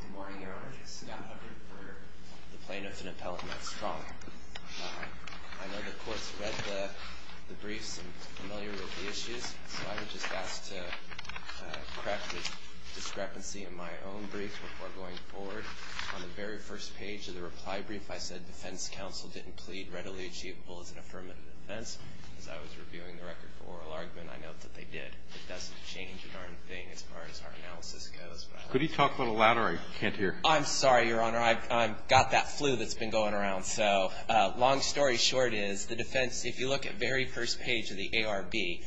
Good morning, Your Honor. This is Scott Hubbard for the Plaintiff in Appellate Matt Strong. I know the Court's read the briefs and are familiar with the issues, so I would just ask to correct the discrepancy in my own brief before going forward. On the very first page of the reply brief, I said, Defense counsel didn't plead readily achievable as an affirmative defense. As I was reviewing the record for oral argument, I note that they did. It doesn't change a darn thing as far as our analysis goes. Could you talk a little louder? I can't hear. I'm sorry, Your Honor. I've got that flu that's been going around. So long story short is the defense, if you look at the very first page of the ARB,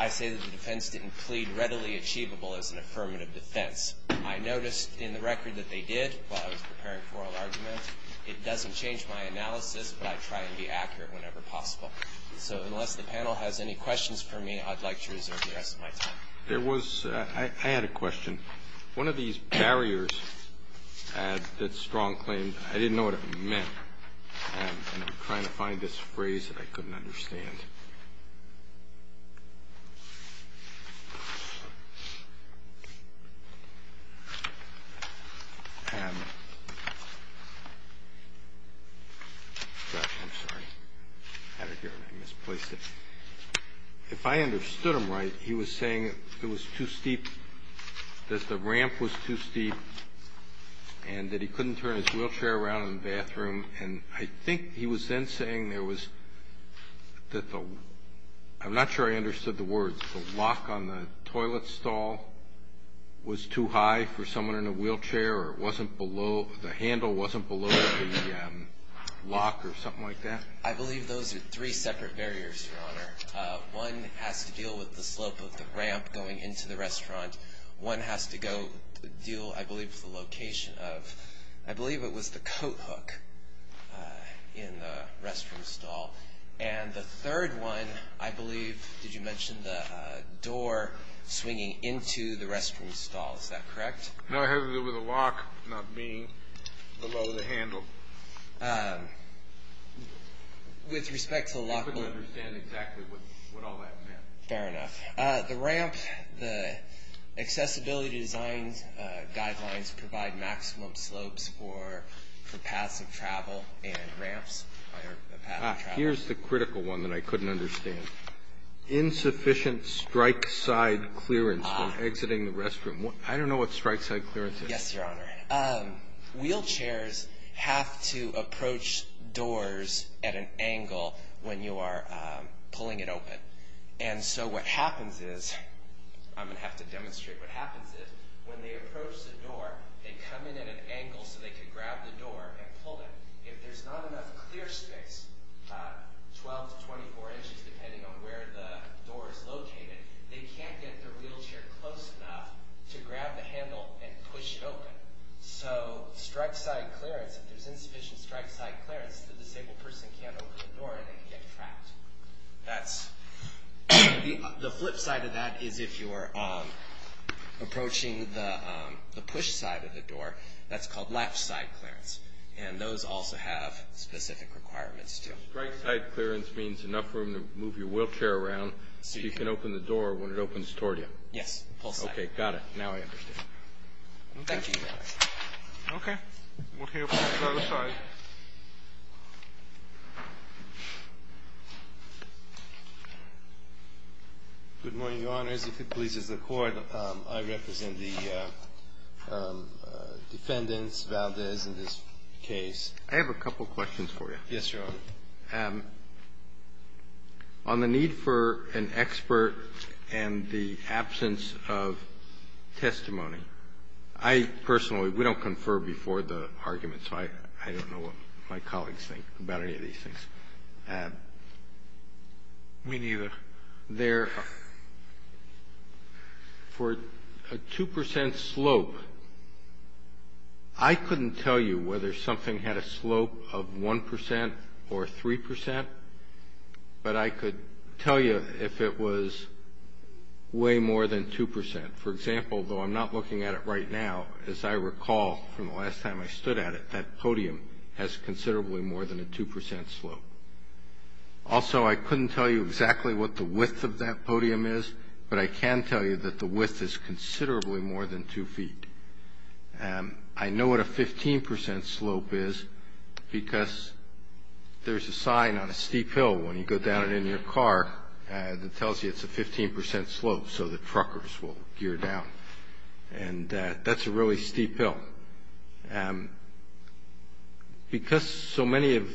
I say that the defense didn't plead readily achievable as an affirmative defense. I noticed in the record that they did while I was preparing for oral argument. It doesn't change my analysis, but I try and be accurate whenever possible. So unless the panel has any questions for me, I'd like to reserve the rest of my time. There was – I had a question. One of these barriers that Strong claimed, I didn't know what it meant, and I'm trying to find this phrase that I couldn't understand. I'm sorry. I had it here and I misplaced it. If I understood him right, he was saying it was too steep, that the ramp was too steep and that he couldn't turn his wheelchair around in the bathroom. And I think he was then saying there was – I'm not sure I understood the words. The lock on the toilet stall was too high for someone in a wheelchair or it wasn't below – the handle wasn't below the lock or something like that? I believe those are three separate barriers, Your Honor. One has to deal with the slope of the ramp going into the restaurant. One has to go deal, I believe, with the location of – I believe it was the coat hook in the restroom stall. And the third one, I believe – did you mention the door swinging into the restroom stall? Is that correct? No, it has to do with the lock not being below the handle. With respect to the lock – I couldn't understand exactly what all that meant. Fair enough. The ramp, the accessibility design guidelines provide maximum slopes for paths of travel and ramps. Here's the critical one that I couldn't understand. Insufficient strike side clearance when exiting the restroom. I don't know what strike side clearance is. Yes, Your Honor. Wheelchairs have to approach doors at an angle when you are pulling it open. And so what happens is – I'm going to have to demonstrate what happens is when they approach the door, they come in at an angle so they can grab the door and pull it. If there's not enough clear space, 12 to 24 inches depending on where the door is located, they can't get their wheelchair close enough to grab the handle and push it open. So strike side clearance, if there's insufficient strike side clearance, the disabled person can't open the door and they can get trapped. The flip side of that is if you're approaching the push side of the door, that's called left side clearance. And those also have specific requirements too. Strike side clearance means enough room to move your wheelchair around so you can open the door when it opens toward you. Yes. Okay. Got it. Now I understand. Thank you, Your Honor. Okay. We'll hear from the other side. Good morning, Your Honors. If it pleases the Court, I represent the defendants, Valdez, in this case. I have a couple questions for you. Yes, Your Honor. On the need for an expert and the absence of testimony, I personally we don't confer before the argument, so I don't know what my colleagues think about any of these things. Me neither. For a 2 percent slope, I couldn't tell you whether something had a slope of 1 percent or 3 percent, but I could tell you if it was way more than 2 percent. For example, though I'm not looking at it right now, as I recall from the last time I stood at it, that podium has considerably more than a 2 percent slope. Also, I couldn't tell you exactly what the width of that podium is, but I can tell you that the width is considerably more than 2 feet. I know what a 15 percent slope is because there's a sign on a steep hill when you go down it in your car that tells you it's a 15 percent slope, so the truckers will gear down. And that's a really steep hill. Because so many of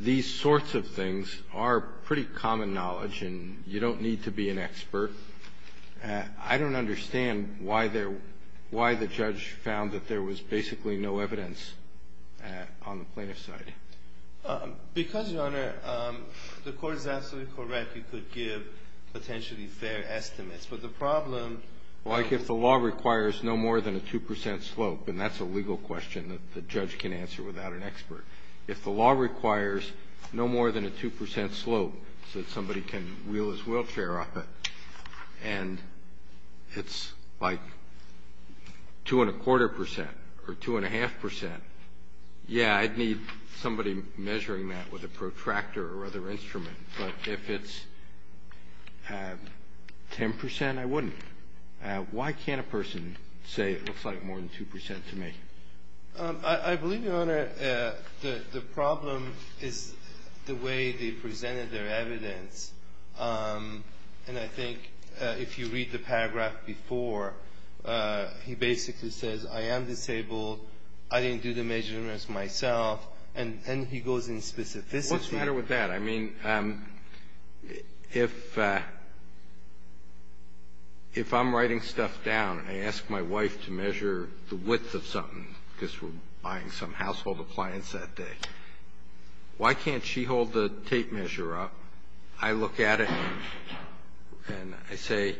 these sorts of things are pretty common knowledge, and you don't need to be an expert, I don't understand why the judge found that there was basically no evidence on the plaintiff's side. Because, Your Honor, the Court is absolutely correct. You could give potentially fair estimates. But the problem like if the law requires no more than a 2 percent slope, and that's a legal question that the judge can answer without an expert. If the law requires no more than a 2 percent slope so that somebody can wheel his wheelchair off it, and it's like two and a quarter percent or two and a half percent, yeah, I'd need somebody measuring that with a protractor or other instrument. But if it's 10 percent, I wouldn't. Why can't a person say it looks like more than 2 percent to me? I believe, Your Honor, the problem is the way they presented their evidence. And I think if you read the paragraph before, he basically says, I am disabled, I didn't do the measurements myself, and he goes in specificity. What's the matter with that? I mean, if I'm writing stuff down and I ask my wife to measure the width of something because we're buying some household appliance that day, why can't she hold the tape measure up, I look at it, and I say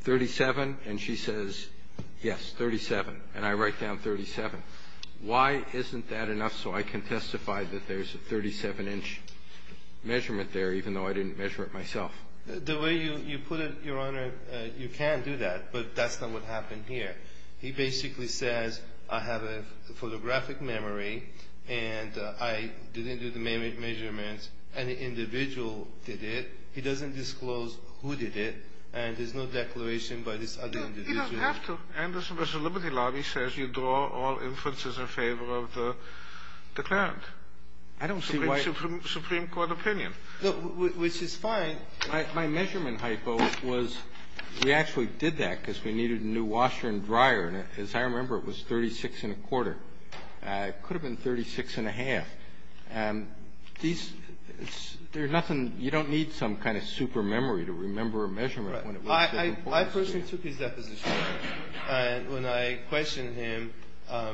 37, and she says, yes, 37, and I write down 37. Why isn't that enough so I can testify that there's a 37-inch measurement there even though I didn't measure it myself? The way you put it, Your Honor, you can do that, but that's not what happened here. He basically says I have a photographic memory and I didn't do the measurements, an individual did it. He doesn't disclose who did it, and there's no declaration by this other individual. Kennedy, you don't have to. Anderson v. Liberty Lobby says you draw all inferences in favor of the declarant. I don't see why you don't. Supreme Court opinion. Which is fine. My measurement hypo was we actually did that because we needed a new washer and dryer, and as I remember, it was 36 and a quarter. It could have been 36 and a half. And these, there's nothing, you don't need some kind of super memory to remember a measurement when it was important. I personally took his deposition. When I questioned him,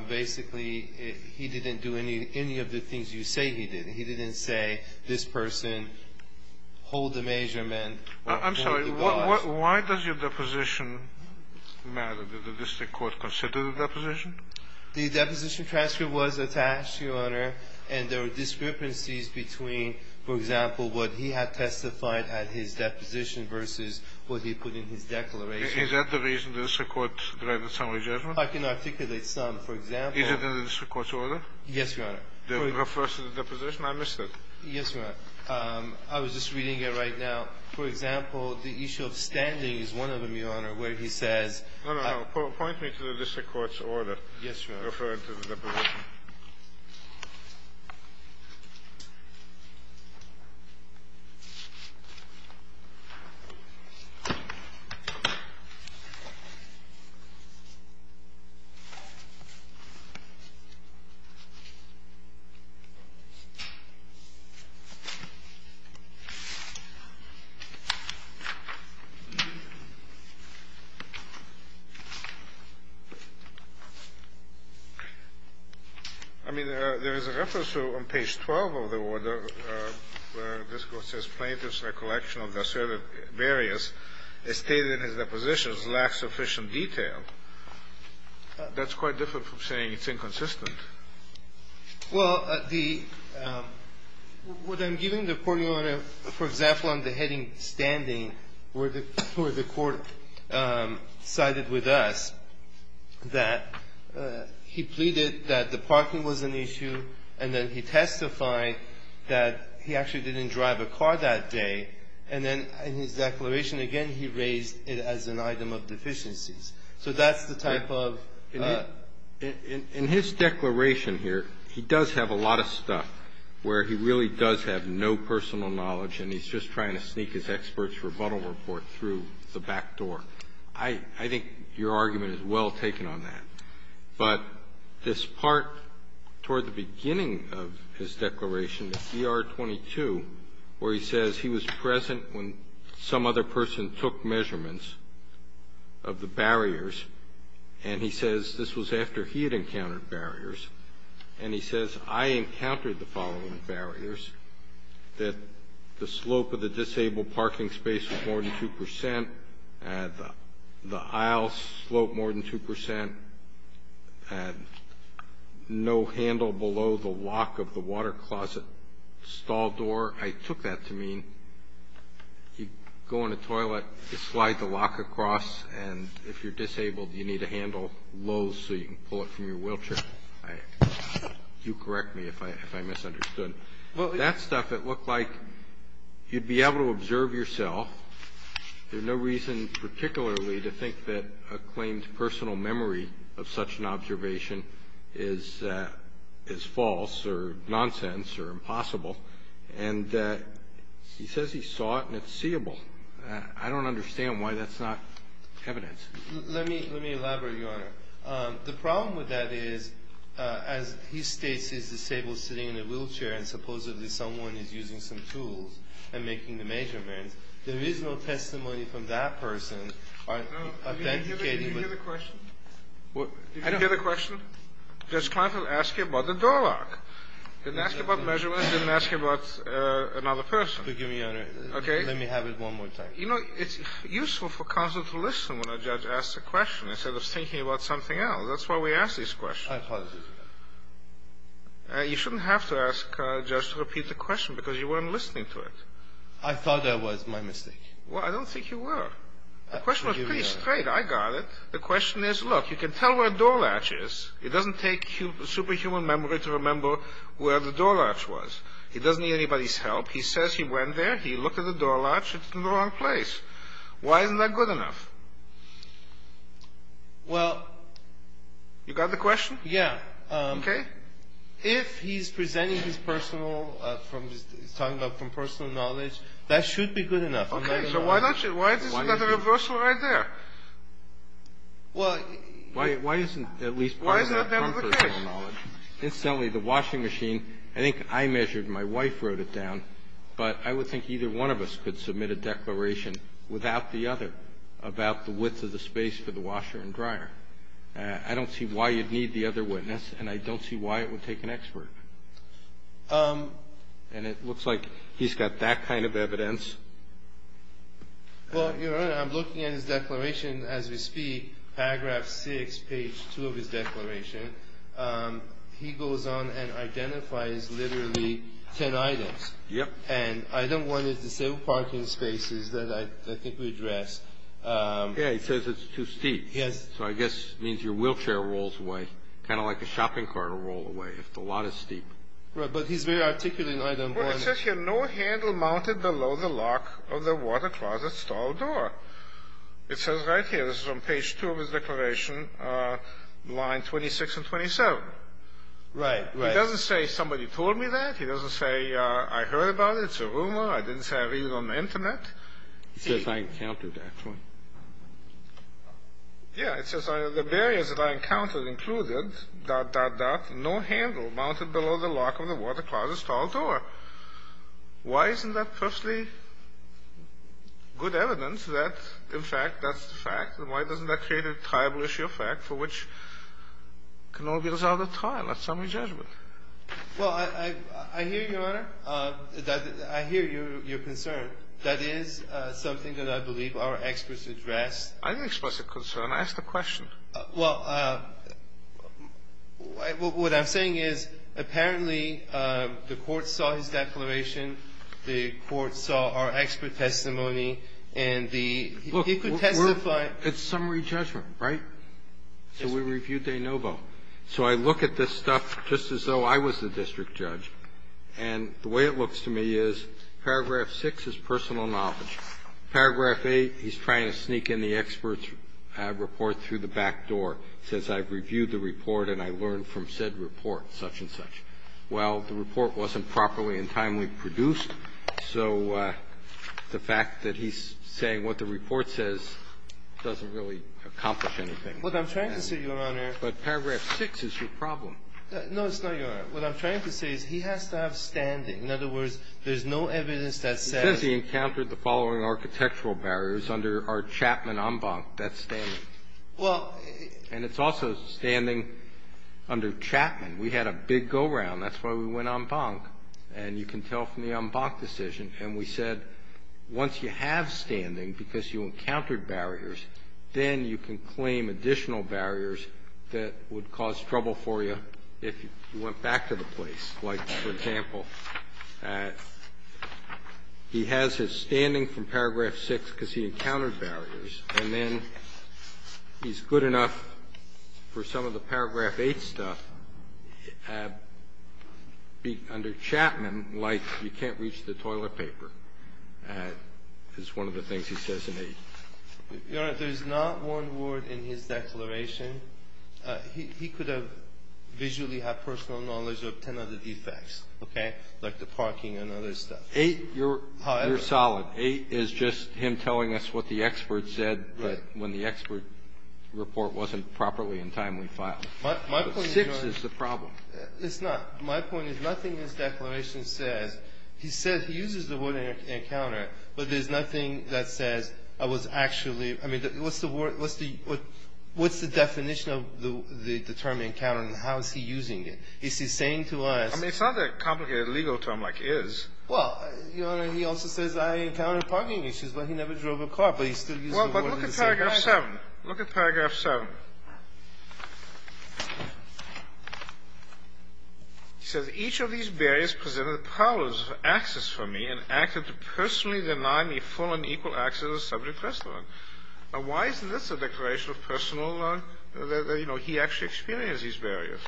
basically, he didn't do any of the things you say he did. He didn't say this person hold the measurement. I'm sorry. Why does your deposition matter? Did the district court consider the deposition? The deposition transcript was attached, Your Honor, and there were discrepancies between, for example, what he had testified at his deposition versus what he put in his declaration. Is that the reason the district court granted some rejection? I can articulate some. For example Is it in the district court's order? Yes, Your Honor. It refers to the deposition? I missed it. Yes, Your Honor. I was just reading it right now. For example, the issue of standing is one of them, Your Honor, where he says No, no, no. Point me to the district court's order. Yes, Your Honor. Referring to the deposition. All right. Thank you. I mean, there is a reference on page 12 of the order where the district court says Plaintiff's recollection of the asserted barriers as stated in his depositions lacks sufficient detail. That's quite different from saying it's inconsistent. Well, the What I'm giving, Your Honor, for example, on the heading standing where the court sided with us that he pleaded that the parking was an issue, and then he testified that he actually didn't drive a car that day, and then in his declaration, again, he raised it as an item of deficiencies. So that's the type of In his declaration here, he does have a lot of stuff where he really does have no personal knowledge, and he's just trying to sneak his expert's rebuttal report through the back door. I think your argument is well taken on that. But this part toward the beginning of his declaration, ER-22, where he says he was present when some other person took measurements of the barriers, and he says this was after he had encountered barriers, and he says, I encountered the following barriers, that the slope of the disabled parking space was more than 2 percent, the aisle slope more than 2 percent, no handle below the lock of the water closet stall door. I took that to mean you go in a toilet, you slide the lock across, and if you're disabled, you need to handle lows so you can pull it from your wheelchair. You correct me if I misunderstood. That stuff, it looked like you'd be able to observe yourself. There's no reason particularly to think that a claimed personal memory of such an observation is false or nonsense or impossible. And he says he saw it, and it's seeable. I don't understand why that's not evidence. Let me elaborate, Your Honor. The problem with that is, as he states he's disabled sitting in a wheelchair and supposedly someone is using some tools and making the measurements, there is no testimony from that person authenticating. Did you hear the question? Did you hear the question? Judge Kleinfeld asked you about the door lock. He didn't ask you about measurements. He didn't ask you about another person. Forgive me, Your Honor. Okay. Let me have it one more time. You know, it's useful for counsel to listen when a judge asks a question instead of thinking about something else. That's why we ask these questions. I apologize, Your Honor. You shouldn't have to ask a judge to repeat the question because you weren't listening to it. I thought that was my mistake. Well, I don't think you were. The question was pretty straight. I got it. The question is, look, you can tell where a door latch is. It doesn't take superhuman memory to remember where the door latch was. He doesn't need anybody's help. He says he went there. He looked at the door latch. It's in the wrong place. Why isn't that good enough? Well. You got the question? Yeah. Okay. If he's presenting his personal from his talking about from personal knowledge, that should be good enough. Okay. So why not? Why isn't that a reversal right there? Well. Why isn't at least part of that from personal knowledge? Incidentally, the washing machine, I think I measured. My wife wrote it down. But I would think either one of us could submit a declaration without the other about the width of the space for the washer and dryer. I don't see why you'd need the other witness, and I don't see why it would take an expert. And it looks like he's got that kind of evidence. Well, Your Honor, I'm looking at his declaration as we speak, paragraph 6, page 2 of his declaration. He goes on and identifies literally ten items. Yep. And item 1 is the same parking spaces that I think we addressed. Yeah. He says it's too steep. Yes. So I guess it means your wheelchair rolls away, kind of like a shopping cart will roll away if the lot is steep. Right. But he's very articulate in item 1. Well, it says here, no handle mounted below the lock of the water closet stall door. It says right here, this is on page 2 of his declaration, line 26 and 27. Right. Right. He doesn't say somebody told me that. He doesn't say I heard about it. It's a rumor. I didn't say I read it on the Internet. He says I encountered that. Yeah. It says the barriers that I encountered included, dot, dot, dot, no handle mounted below the lock of the water closet stall door. Why isn't that firstly good evidence that, in fact, that's the fact? And why doesn't that create a tribal issue of fact for which can all be resolved at trial, at summary judgment? Well, I hear you, Your Honor. I hear your concern. That is something that I believe our experts addressed. I didn't express a concern. I asked a question. Well, what I'm saying is, apparently, the Court saw his declaration. The Court saw our expert testimony. And the he could testify. Look, it's summary judgment, right? Yes, sir. So we reviewed de novo. So I look at this stuff just as though I was the district judge. And the way it looks to me is, paragraph 6 is personal knowledge. Paragraph 8, he's trying to sneak in the expert's report through the back door. He says, I've reviewed the report and I learned from said report, such and such. Well, the report wasn't properly and timely produced, so the fact that he's saying what the report says doesn't really accomplish anything. What I'm trying to say, Your Honor. But paragraph 6 is your problem. No, it's not, Your Honor. What I'm trying to say is he has to have standing. In other words, there's no evidence that says he encountered the following architectural barriers under our Chapman en banc, that's standing. Well, it's also standing under Chapman. We had a big go-round. That's why we went en banc. And you can tell from the en banc decision. And we said, once you have standing because you encountered barriers, then you can claim additional barriers that would cause trouble for you if you went back to the place. Like, for example, he has his standing from paragraph 6 because he encountered barriers. And then he's good enough for some of the paragraph 8 stuff under Chapman, like you can't reach the toilet paper, is one of the things he says in 8. Your Honor, there's not one word in his declaration. He could have visually had personal knowledge of 10 other defects, okay, like the parking and other stuff. 8, you're solid. 8 is just him telling us what the expert said when the expert report wasn't properly and timely filed. But 6 is the problem. It's not. My point is, nothing in his declaration says, he says he uses the word encounter, but there's nothing that says I was actually, I mean, what's the word, what's the definition of the term encounter and how is he using it? Is he saying to us. I mean, it's not a complicated legal term like is. Well, Your Honor, he also says I encountered parking issues, but he never drove a car, but he still uses the word encounter. Well, but look at paragraph 7. Look at paragraph 7. He says, each of these barriers presented powers of access for me and acted to personally deny me full and equal access to the subject rest of it. Now, why isn't this a declaration of personal, you know, he actually experienced these barriers.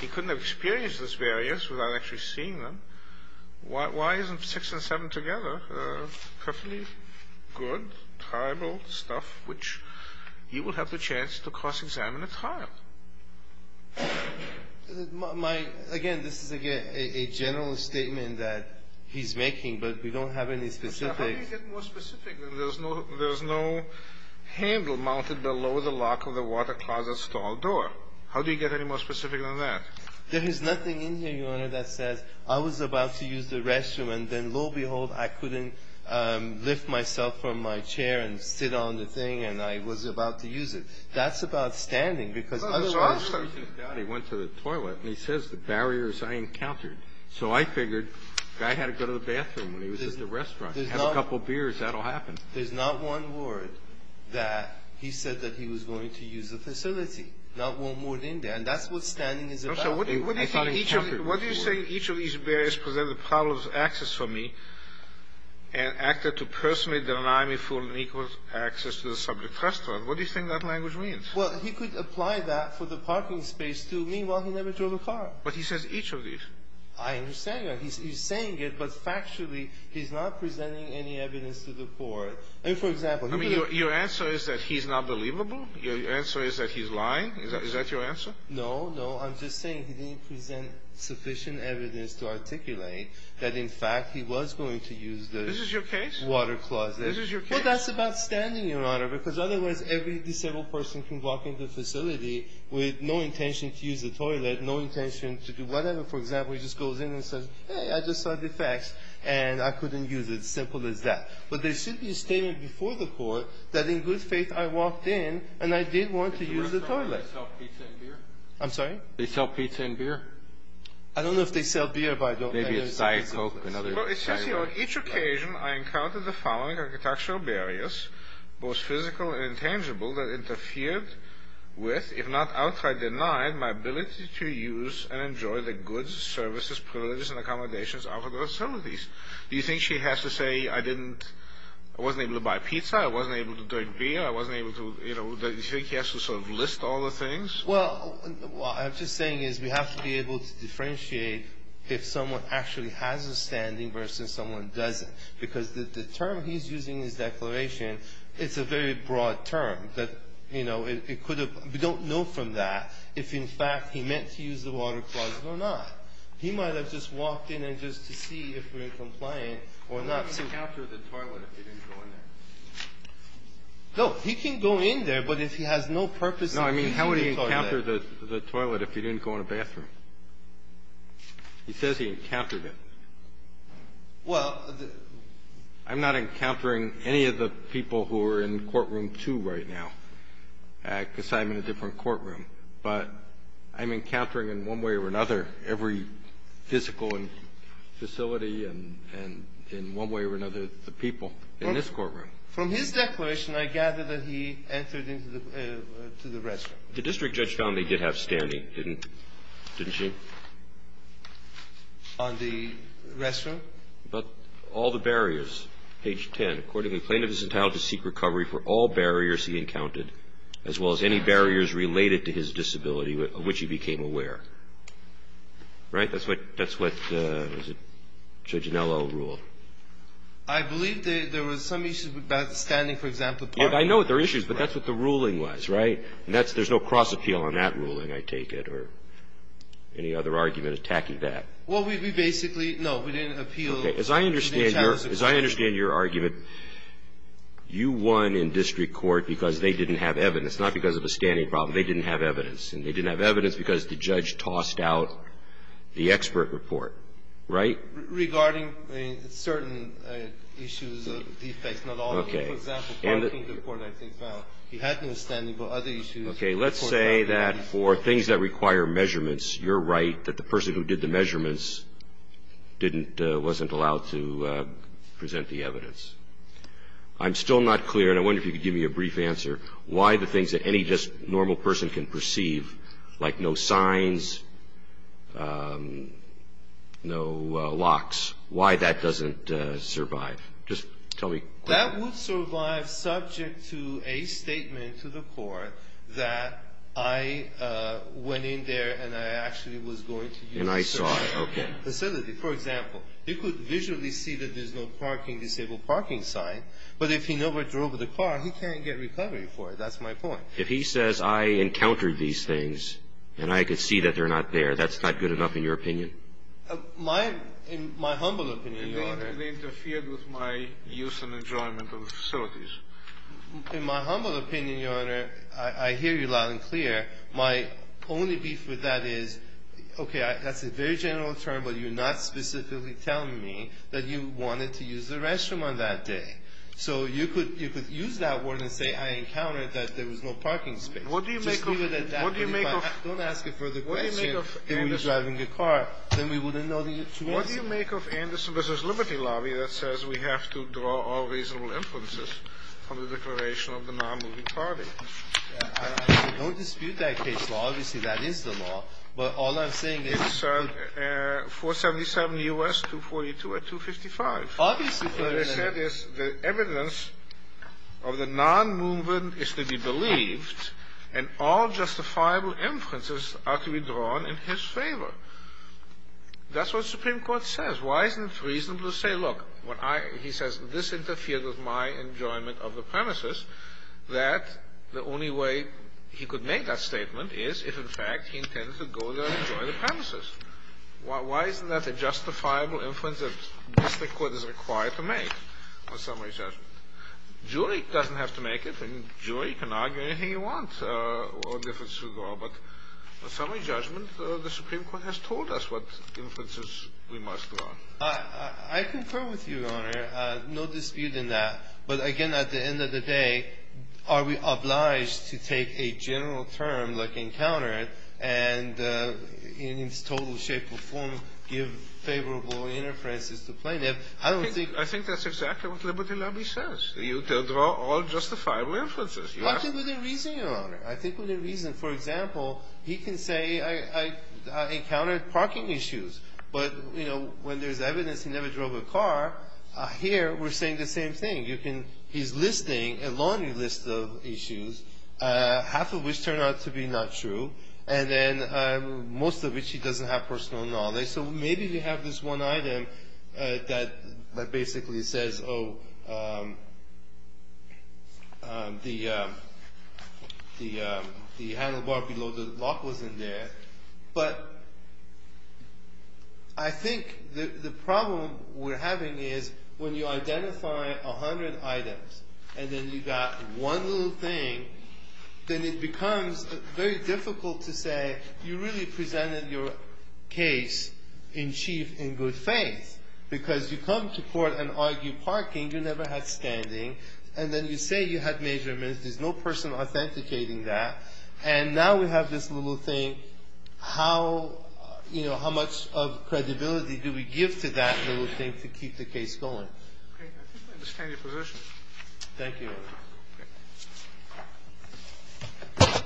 He couldn't have experienced these barriers without actually seeing them. Why isn't 6 and 7 together perfectly good, terrible stuff, which he will have the chance to see to cross-examine a child? My, again, this is a general statement that he's making, but we don't have any specifics. How do you get more specific? There's no handle mounted below the lock of the water closet stall door. How do you get any more specific than that? There is nothing in here, Your Honor, that says I was about to use the restroom and then, That's about standing because otherwise, He went to the toilet and he says the barriers I encountered. So I figured the guy had to go to the bathroom when he was at the restaurant and have a couple beers. That'll happen. There's not one word that he said that he was going to use the facility. Not one word in there. And that's what standing is about. What do you think each of these barriers presented powers of access for me and acted to personally deny me full and equal access to the subject rest of it? What do you think that language means? Well, he could apply that for the parking space, too. Meanwhile, he never drove a car. But he says each of these. I understand that. He's saying it, but factually, he's not presenting any evidence to the court. And for example, I mean, your answer is that he's not believable? Your answer is that he's lying? Is that your answer? No, no. I'm just saying he didn't present sufficient evidence to articulate that, in fact, he was going to use the This is your case? Water closet. This is your case? I think that's about standing, Your Honor, because otherwise every disabled person can walk into the facility with no intention to use the toilet, no intention to do whatever. For example, he just goes in and says, hey, I just saw defects, and I couldn't use it. Simple as that. But there should be a statement before the court that in good faith I walked in, and I did want to use the toilet. They sell pizza and beer? I'm sorry? They sell pizza and beer? I don't know if they sell beer, but I don't know. Maybe it's Diet Coke and other. Well, it says here, on each occasion I encountered the following architectural barriers, both physical and intangible, that interfered with, if not outright denied, my ability to use and enjoy the goods, services, privileges, and accommodations of the facilities. Do you think she has to say I didn't, I wasn't able to buy pizza, I wasn't able to drink beer, I wasn't able to, you know, do you think she has to sort of list all the things? Well, what I'm just saying is we have to be able to differentiate if someone actually has a standing versus someone doesn't. Because the term he's using in his declaration, it's a very broad term that, you know, it could have been, we don't know from that if, in fact, he meant to use the water closet or not. He might have just walked in and just to see if we're compliant or not. He didn't encounter the toilet if he didn't go in there. No, he can go in there, but if he has no purpose in being in the toilet. No, I mean, how would he encounter the toilet if he didn't go in the bathroom? He says he encountered it. Well, the. I'm not encountering any of the people who are in courtroom two right now, because I'm in a different courtroom. But I'm encountering in one way or another every physical facility and in one way or another the people in this courtroom. From his declaration, I gather that he entered into the restroom. The district judge found that he did have standing, didn't she? On the restroom? About all the barriers. Page 10. Accordingly, plaintiff is entitled to seek recovery for all barriers he encountered, as well as any barriers related to his disability of which he became aware. Right? That's what Judge Anello ruled. I believe there was some issue about standing, for example. I know there are issues, but that's what the ruling was, right? And there's no cross appeal on that ruling, I take it, or any other argument attacking that. Well, we basically, no, we didn't appeal. As I understand your argument, you won in district court because they didn't have evidence, not because of a standing problem. They didn't have evidence. And they didn't have evidence because the judge tossed out the expert report, right? Regarding certain issues, defects, not all of them. Okay. For example, parking report I think found he had no standing, but other issues. Okay. Let's say that for things that require measurements, you're right, that the person who did the measurements didn't, wasn't allowed to present the evidence. I'm still not clear, and I wonder if you could give me a brief answer, why the things that any just normal person can perceive, like no signs, no locks, why that doesn't survive. Just tell me. That would survive subject to a statement to the court that I went in there and I actually was going to use a certain facility. And I saw it. Okay. For example, you could visually see that there's no parking, disabled parking sign, but if he never drove the car, he can't get recovery for it. That's my point. If he says I encountered these things and I could see that they're not there, that's not good enough in your opinion? In my humble opinion, Your Honor. It interfered with my use and enjoyment of the facilities. In my humble opinion, Your Honor, I hear you loud and clear. My only beef with that is, okay, that's a very general term, but you're not specifically telling me that you wanted to use the restroom on that day. So you could use that word and say I encountered that there was no parking space. Just leave it at that. Don't ask a further question. If he was driving a car, then we wouldn't know the answer. What do you make of Anderson v. Liberty Lobby that says we have to draw all reasonable inferences from the declaration of the nonmoving party? I don't dispute that case law. Obviously, that is the law. But all I'm saying is it's a 477 U.S. 242 or 255. What I said is the evidence of the nonmoving is to be believed, and all justifiable inferences are to be drawn in his favor. That's what the Supreme Court says. Why isn't it reasonable to say, look, he says this interfered with my enjoyment of the premises, that the only way he could make that statement is if, in fact, he intended to go there and enjoy the premises. Why isn't that a justifiable inference that the Supreme Court is required to make on summary judgment? A jury doesn't have to make it. A jury can argue anything they want. But on summary judgment, the Supreme Court has told us what inferences we must draw. I concur with you, Your Honor. No dispute in that. But, again, at the end of the day, are we obliged to take a general term like encountered and in its total shape or form give favorable interferences to plaintiff? I don't think — I think that's exactly what Liberty Lobby says. You draw all justifiable inferences. I think we need reason, Your Honor. I think we need reason. For example, he can say I encountered parking issues. But, you know, when there's evidence he never drove a car, here we're saying the same thing. You can — he's listing a laundry list of issues, half of which turn out to be not true. And then most of it he doesn't have personal knowledge. So maybe we have this one item that basically says, oh, the handlebar below the lock wasn't there. But I think the problem we're having is when you identify a hundred items and then you got one little thing, then it becomes very difficult to say you really presented your case in chief in good faith because you come to court and argue parking. You never had standing. And then you say you had measurements. There's no person authenticating that. And now we have this little thing. How, you know, how much of credibility do we give to that little thing to keep the case going? Okay. I think I understand your position. Thank you, Your Honor. Okay.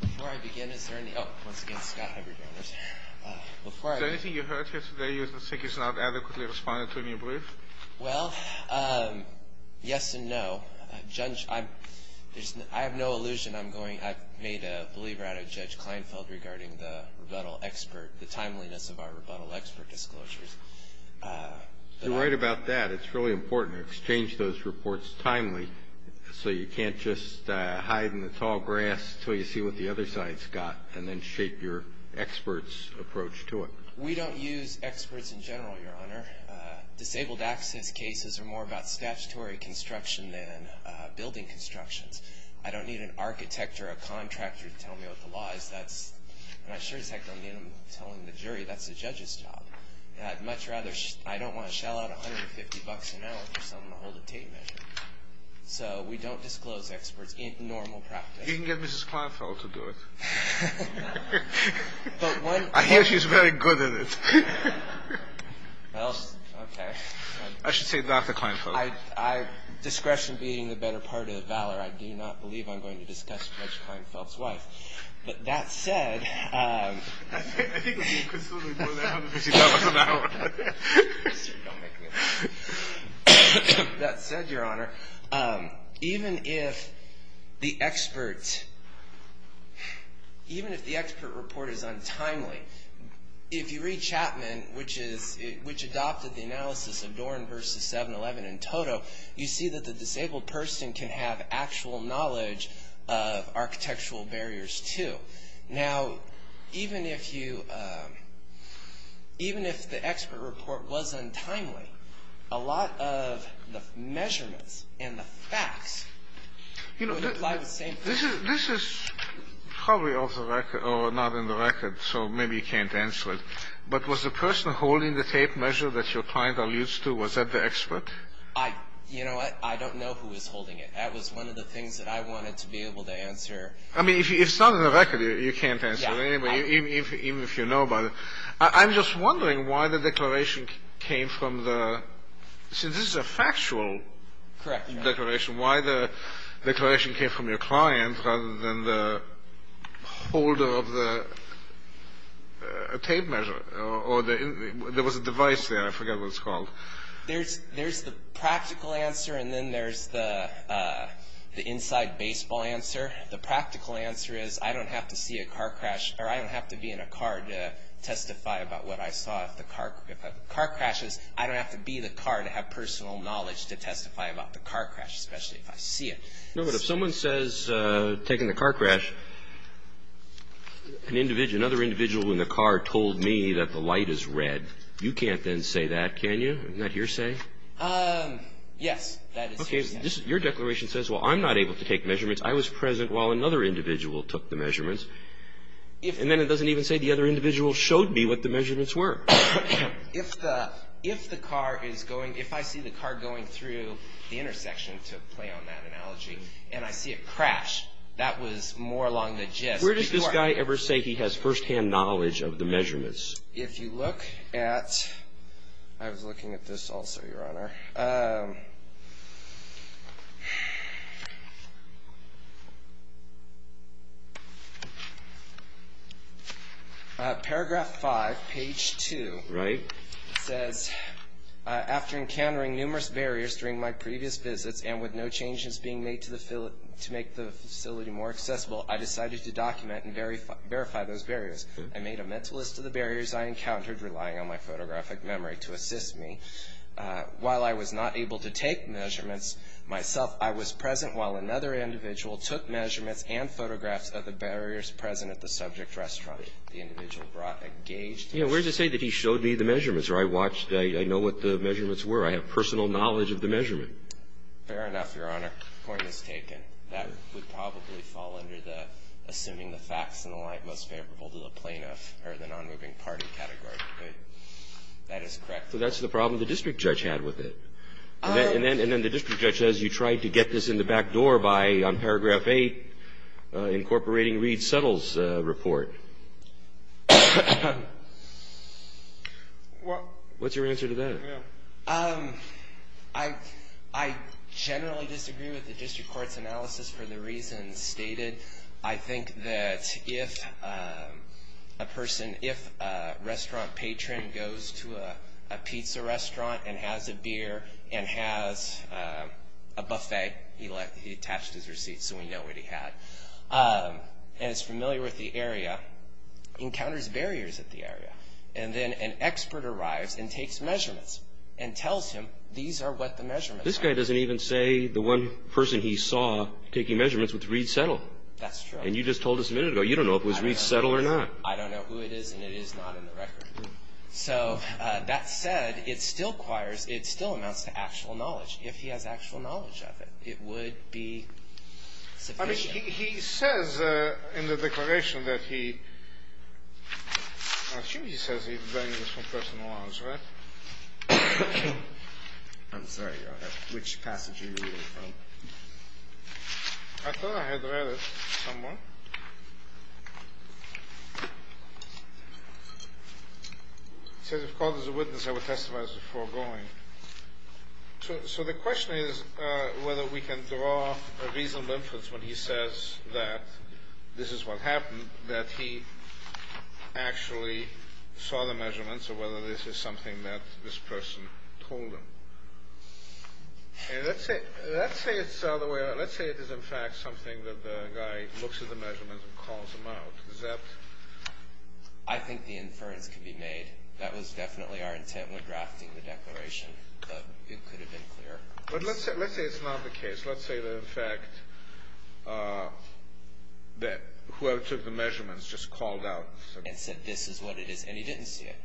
Before I begin, is there any — oh, once again, Scott, I have your banners here. Is there anything you heard here today you think is not adequately responded to in your brief? Well, yes and no. Judge, I have no illusion. I've made a believer out of Judge Kleinfeld regarding the rebuttal expert, the timeliness of our rebuttal expert disclosures. You're right about that. It's really important to exchange those reports timely so you can't just hide in the tall grass until you see what the other side's got and then shape your expert's approach to it. We don't use experts in general, Your Honor. Disabled access cases are more about statutory construction than building constructions. I don't need an architect or a contractor to tell me what the law is. That's — and I sure as heck don't need them telling the jury. That's the judge's job. I'd much rather — I don't want to shell out $150 an hour for someone to hold a tape measure. So we don't disclose experts in normal practice. You can get Mrs. Kleinfeld to do it. I hear she's very good at it. Well, okay. I should say that to Kleinfeld. Discretion being the better part of the valor, I do not believe I'm going to discuss Judge Kleinfeld's wife. But that said — I think we can still do more than $150 an hour. Don't make me laugh. That said, Your Honor, even if the expert report is untimely, if you read Chapman, which adopted the analysis of Doran v. 7-11 in Toto, you see that the disabled person can have actual knowledge of architectural barriers, too. Now, even if you — even if the expert report was untimely, a lot of the measurements and the facts would imply the same thing. This is probably off the record — or not in the record, so maybe you can't answer it. But was the person holding the tape measure that your client alludes to, was that the expert? You know what? I don't know who was holding it. That was one of the things that I wanted to be able to answer. I mean, if it's not in the record, you can't answer it anyway, even if you know about it. I'm just wondering why the declaration came from the — since this is a factual — Correct. — declaration, why the declaration came from your client rather than the holder of the tape measure. Or there was a device there. I forget what it's called. There's the practical answer, and then there's the inside baseball answer. The practical answer is, I don't have to see a car crash, or I don't have to be in a car to testify about what I saw. If a car crashes, I don't have to be in a car to have personal knowledge to testify about the car crash, especially if I see it. No, but if someone says, taking the car crash, another individual in the car told me that the light is red, you can't then say that, can you? Isn't that hearsay? Yes, that is hearsay. Okay. Your declaration says, well, I'm not able to take measurements. I was present while another individual took the measurements. And then it doesn't even say the other individual showed me what the measurements were. If the car is going — if I see the car going through the intersection, to play on that analogy, and I see it crash, that was more along the gist. Where does this guy ever say he has firsthand knowledge of the measurements? If you look at — I was looking at this also, Your Honor. Paragraph 5, page 2. Right. It says, after encountering numerous barriers during my previous visits, and with no changes being made to make the facility more accessible, I decided to document and verify those barriers. I made a mental list of the barriers I encountered, relying on my photographic memory to assist me. While I was not able to take measurements myself, I was present while another individual took measurements and photographs of the barriers present at the subject restaurant. The individual brought a gauged — Yeah, where does it say that he showed me the measurements? Or I watched — I know what the measurements were. I have personal knowledge of the measurement. Fair enough, Your Honor. Point is taken. That would probably fall under the assuming the facts in the light most favorable to the plaintiff, or the nonmoving party category. But that is correct. So that's the problem the district judge had with it. And then the district judge says you tried to get this in the back door by, on paragraph 8, incorporating Reed's settles report. What's your answer to that? I generally disagree with the district court's analysis for the reasons stated. I think that if a person, if a restaurant patron goes to a pizza restaurant and has a beer and has a buffet — he attached his receipt so we know what he had — and is familiar with the area, encounters barriers at the area. And then an expert arrives and takes measurements and tells him these are what the measurements are. This guy doesn't even say the one person he saw taking measurements with Reed's settle. That's true. And you just told us a minute ago. You don't know if it was Reed's settle or not. I don't know who it is, and it is not in the record. So that said, it still acquires — it still amounts to actual knowledge. If he has actual knowledge of it, it would be sufficient. I mean, he says in the declaration that he — I assume he says he learned this from personal knowledge, right? I'm sorry. Which passage are you reading from? I thought I had read it somewhere. It says, if called as a witness, I would testify as before going. So the question is whether we can draw a reasonable inference when he says that this is what happened, that he actually saw the measurements or whether this is something that this person told him. And let's say it's the way — let's say it is, in fact, something that the guy looks at the measurements and calls them out. Is that — I think the inference could be made. That was definitely our intent when drafting the declaration, but it could have been clearer. But let's say it's not the case. Let's say that, in fact, that whoever took the measurements just called out and said — And said this is what it is, and he didn't see it.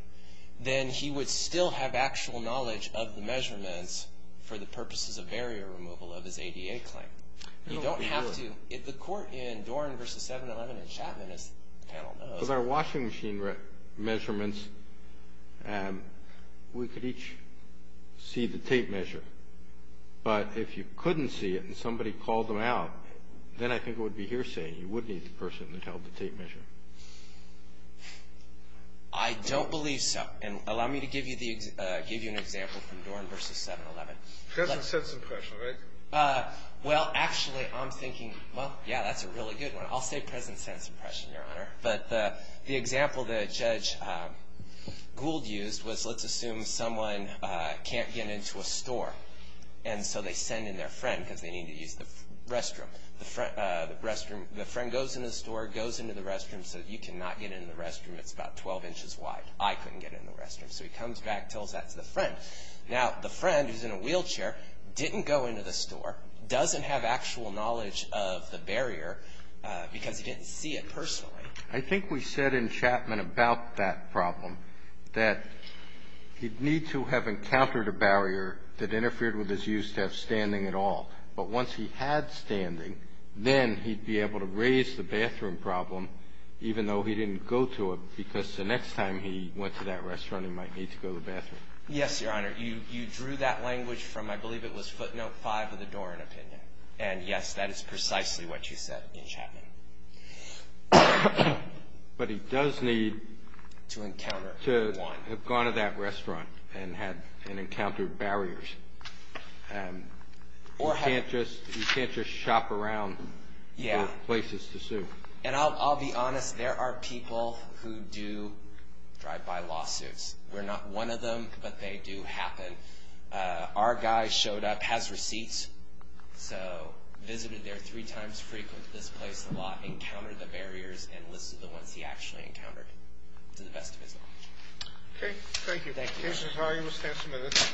Then he would still have actual knowledge of the measurements for the purposes of barrier removal of his ADA claim. You don't have to — if the court in Doran v. 711 in Chapman, as the panel knows — Those are washing machine measurements. We could each see the tape measure. But if you couldn't see it and somebody called them out, then I think it would be hearsay. You would need the person that held the tape measure. I don't believe so. And allow me to give you an example from Doran v. 711. President's sense of pressure, right? Well, actually, I'm thinking, well, yeah, that's a really good one. I'll say President's sense of pressure, Your Honor. But the example that Judge Gould used was, let's assume someone can't get into a store. And so they send in their friend because they need to use the restroom. The friend goes in the store, goes into the restroom so that you cannot get in the restroom. It's about 12 inches wide. I couldn't get in the restroom. So he comes back, tells that to the friend. Now, the friend, who's in a wheelchair, didn't go into the store, doesn't have actual knowledge of the barrier because he didn't see it personally. I think we said in Chapman about that problem that he'd need to have encountered a barrier that interfered with his use of standing at all. But once he had standing, then he'd be able to raise the bathroom problem, even though he didn't go to it because the next time he went to that restaurant, he might need to go to the bathroom. Yes, Your Honor. Your Honor, you drew that language from, I believe it was footnote 5 of the Doran opinion. And, yes, that is precisely what you said in Chapman. But he does need to have gone to that restaurant and encountered barriers. You can't just shop around for places to sue. And I'll be honest. There are people who do drive by lawsuits. We're not one of them, but they do happen. Our guy showed up, has receipts, so visited there three times, frequented this place a lot, encountered the barriers, and listed the ones he actually encountered to the best of his knowledge. Okay. Thank you. Thank you, Your Honor. This is how you withstand some of this.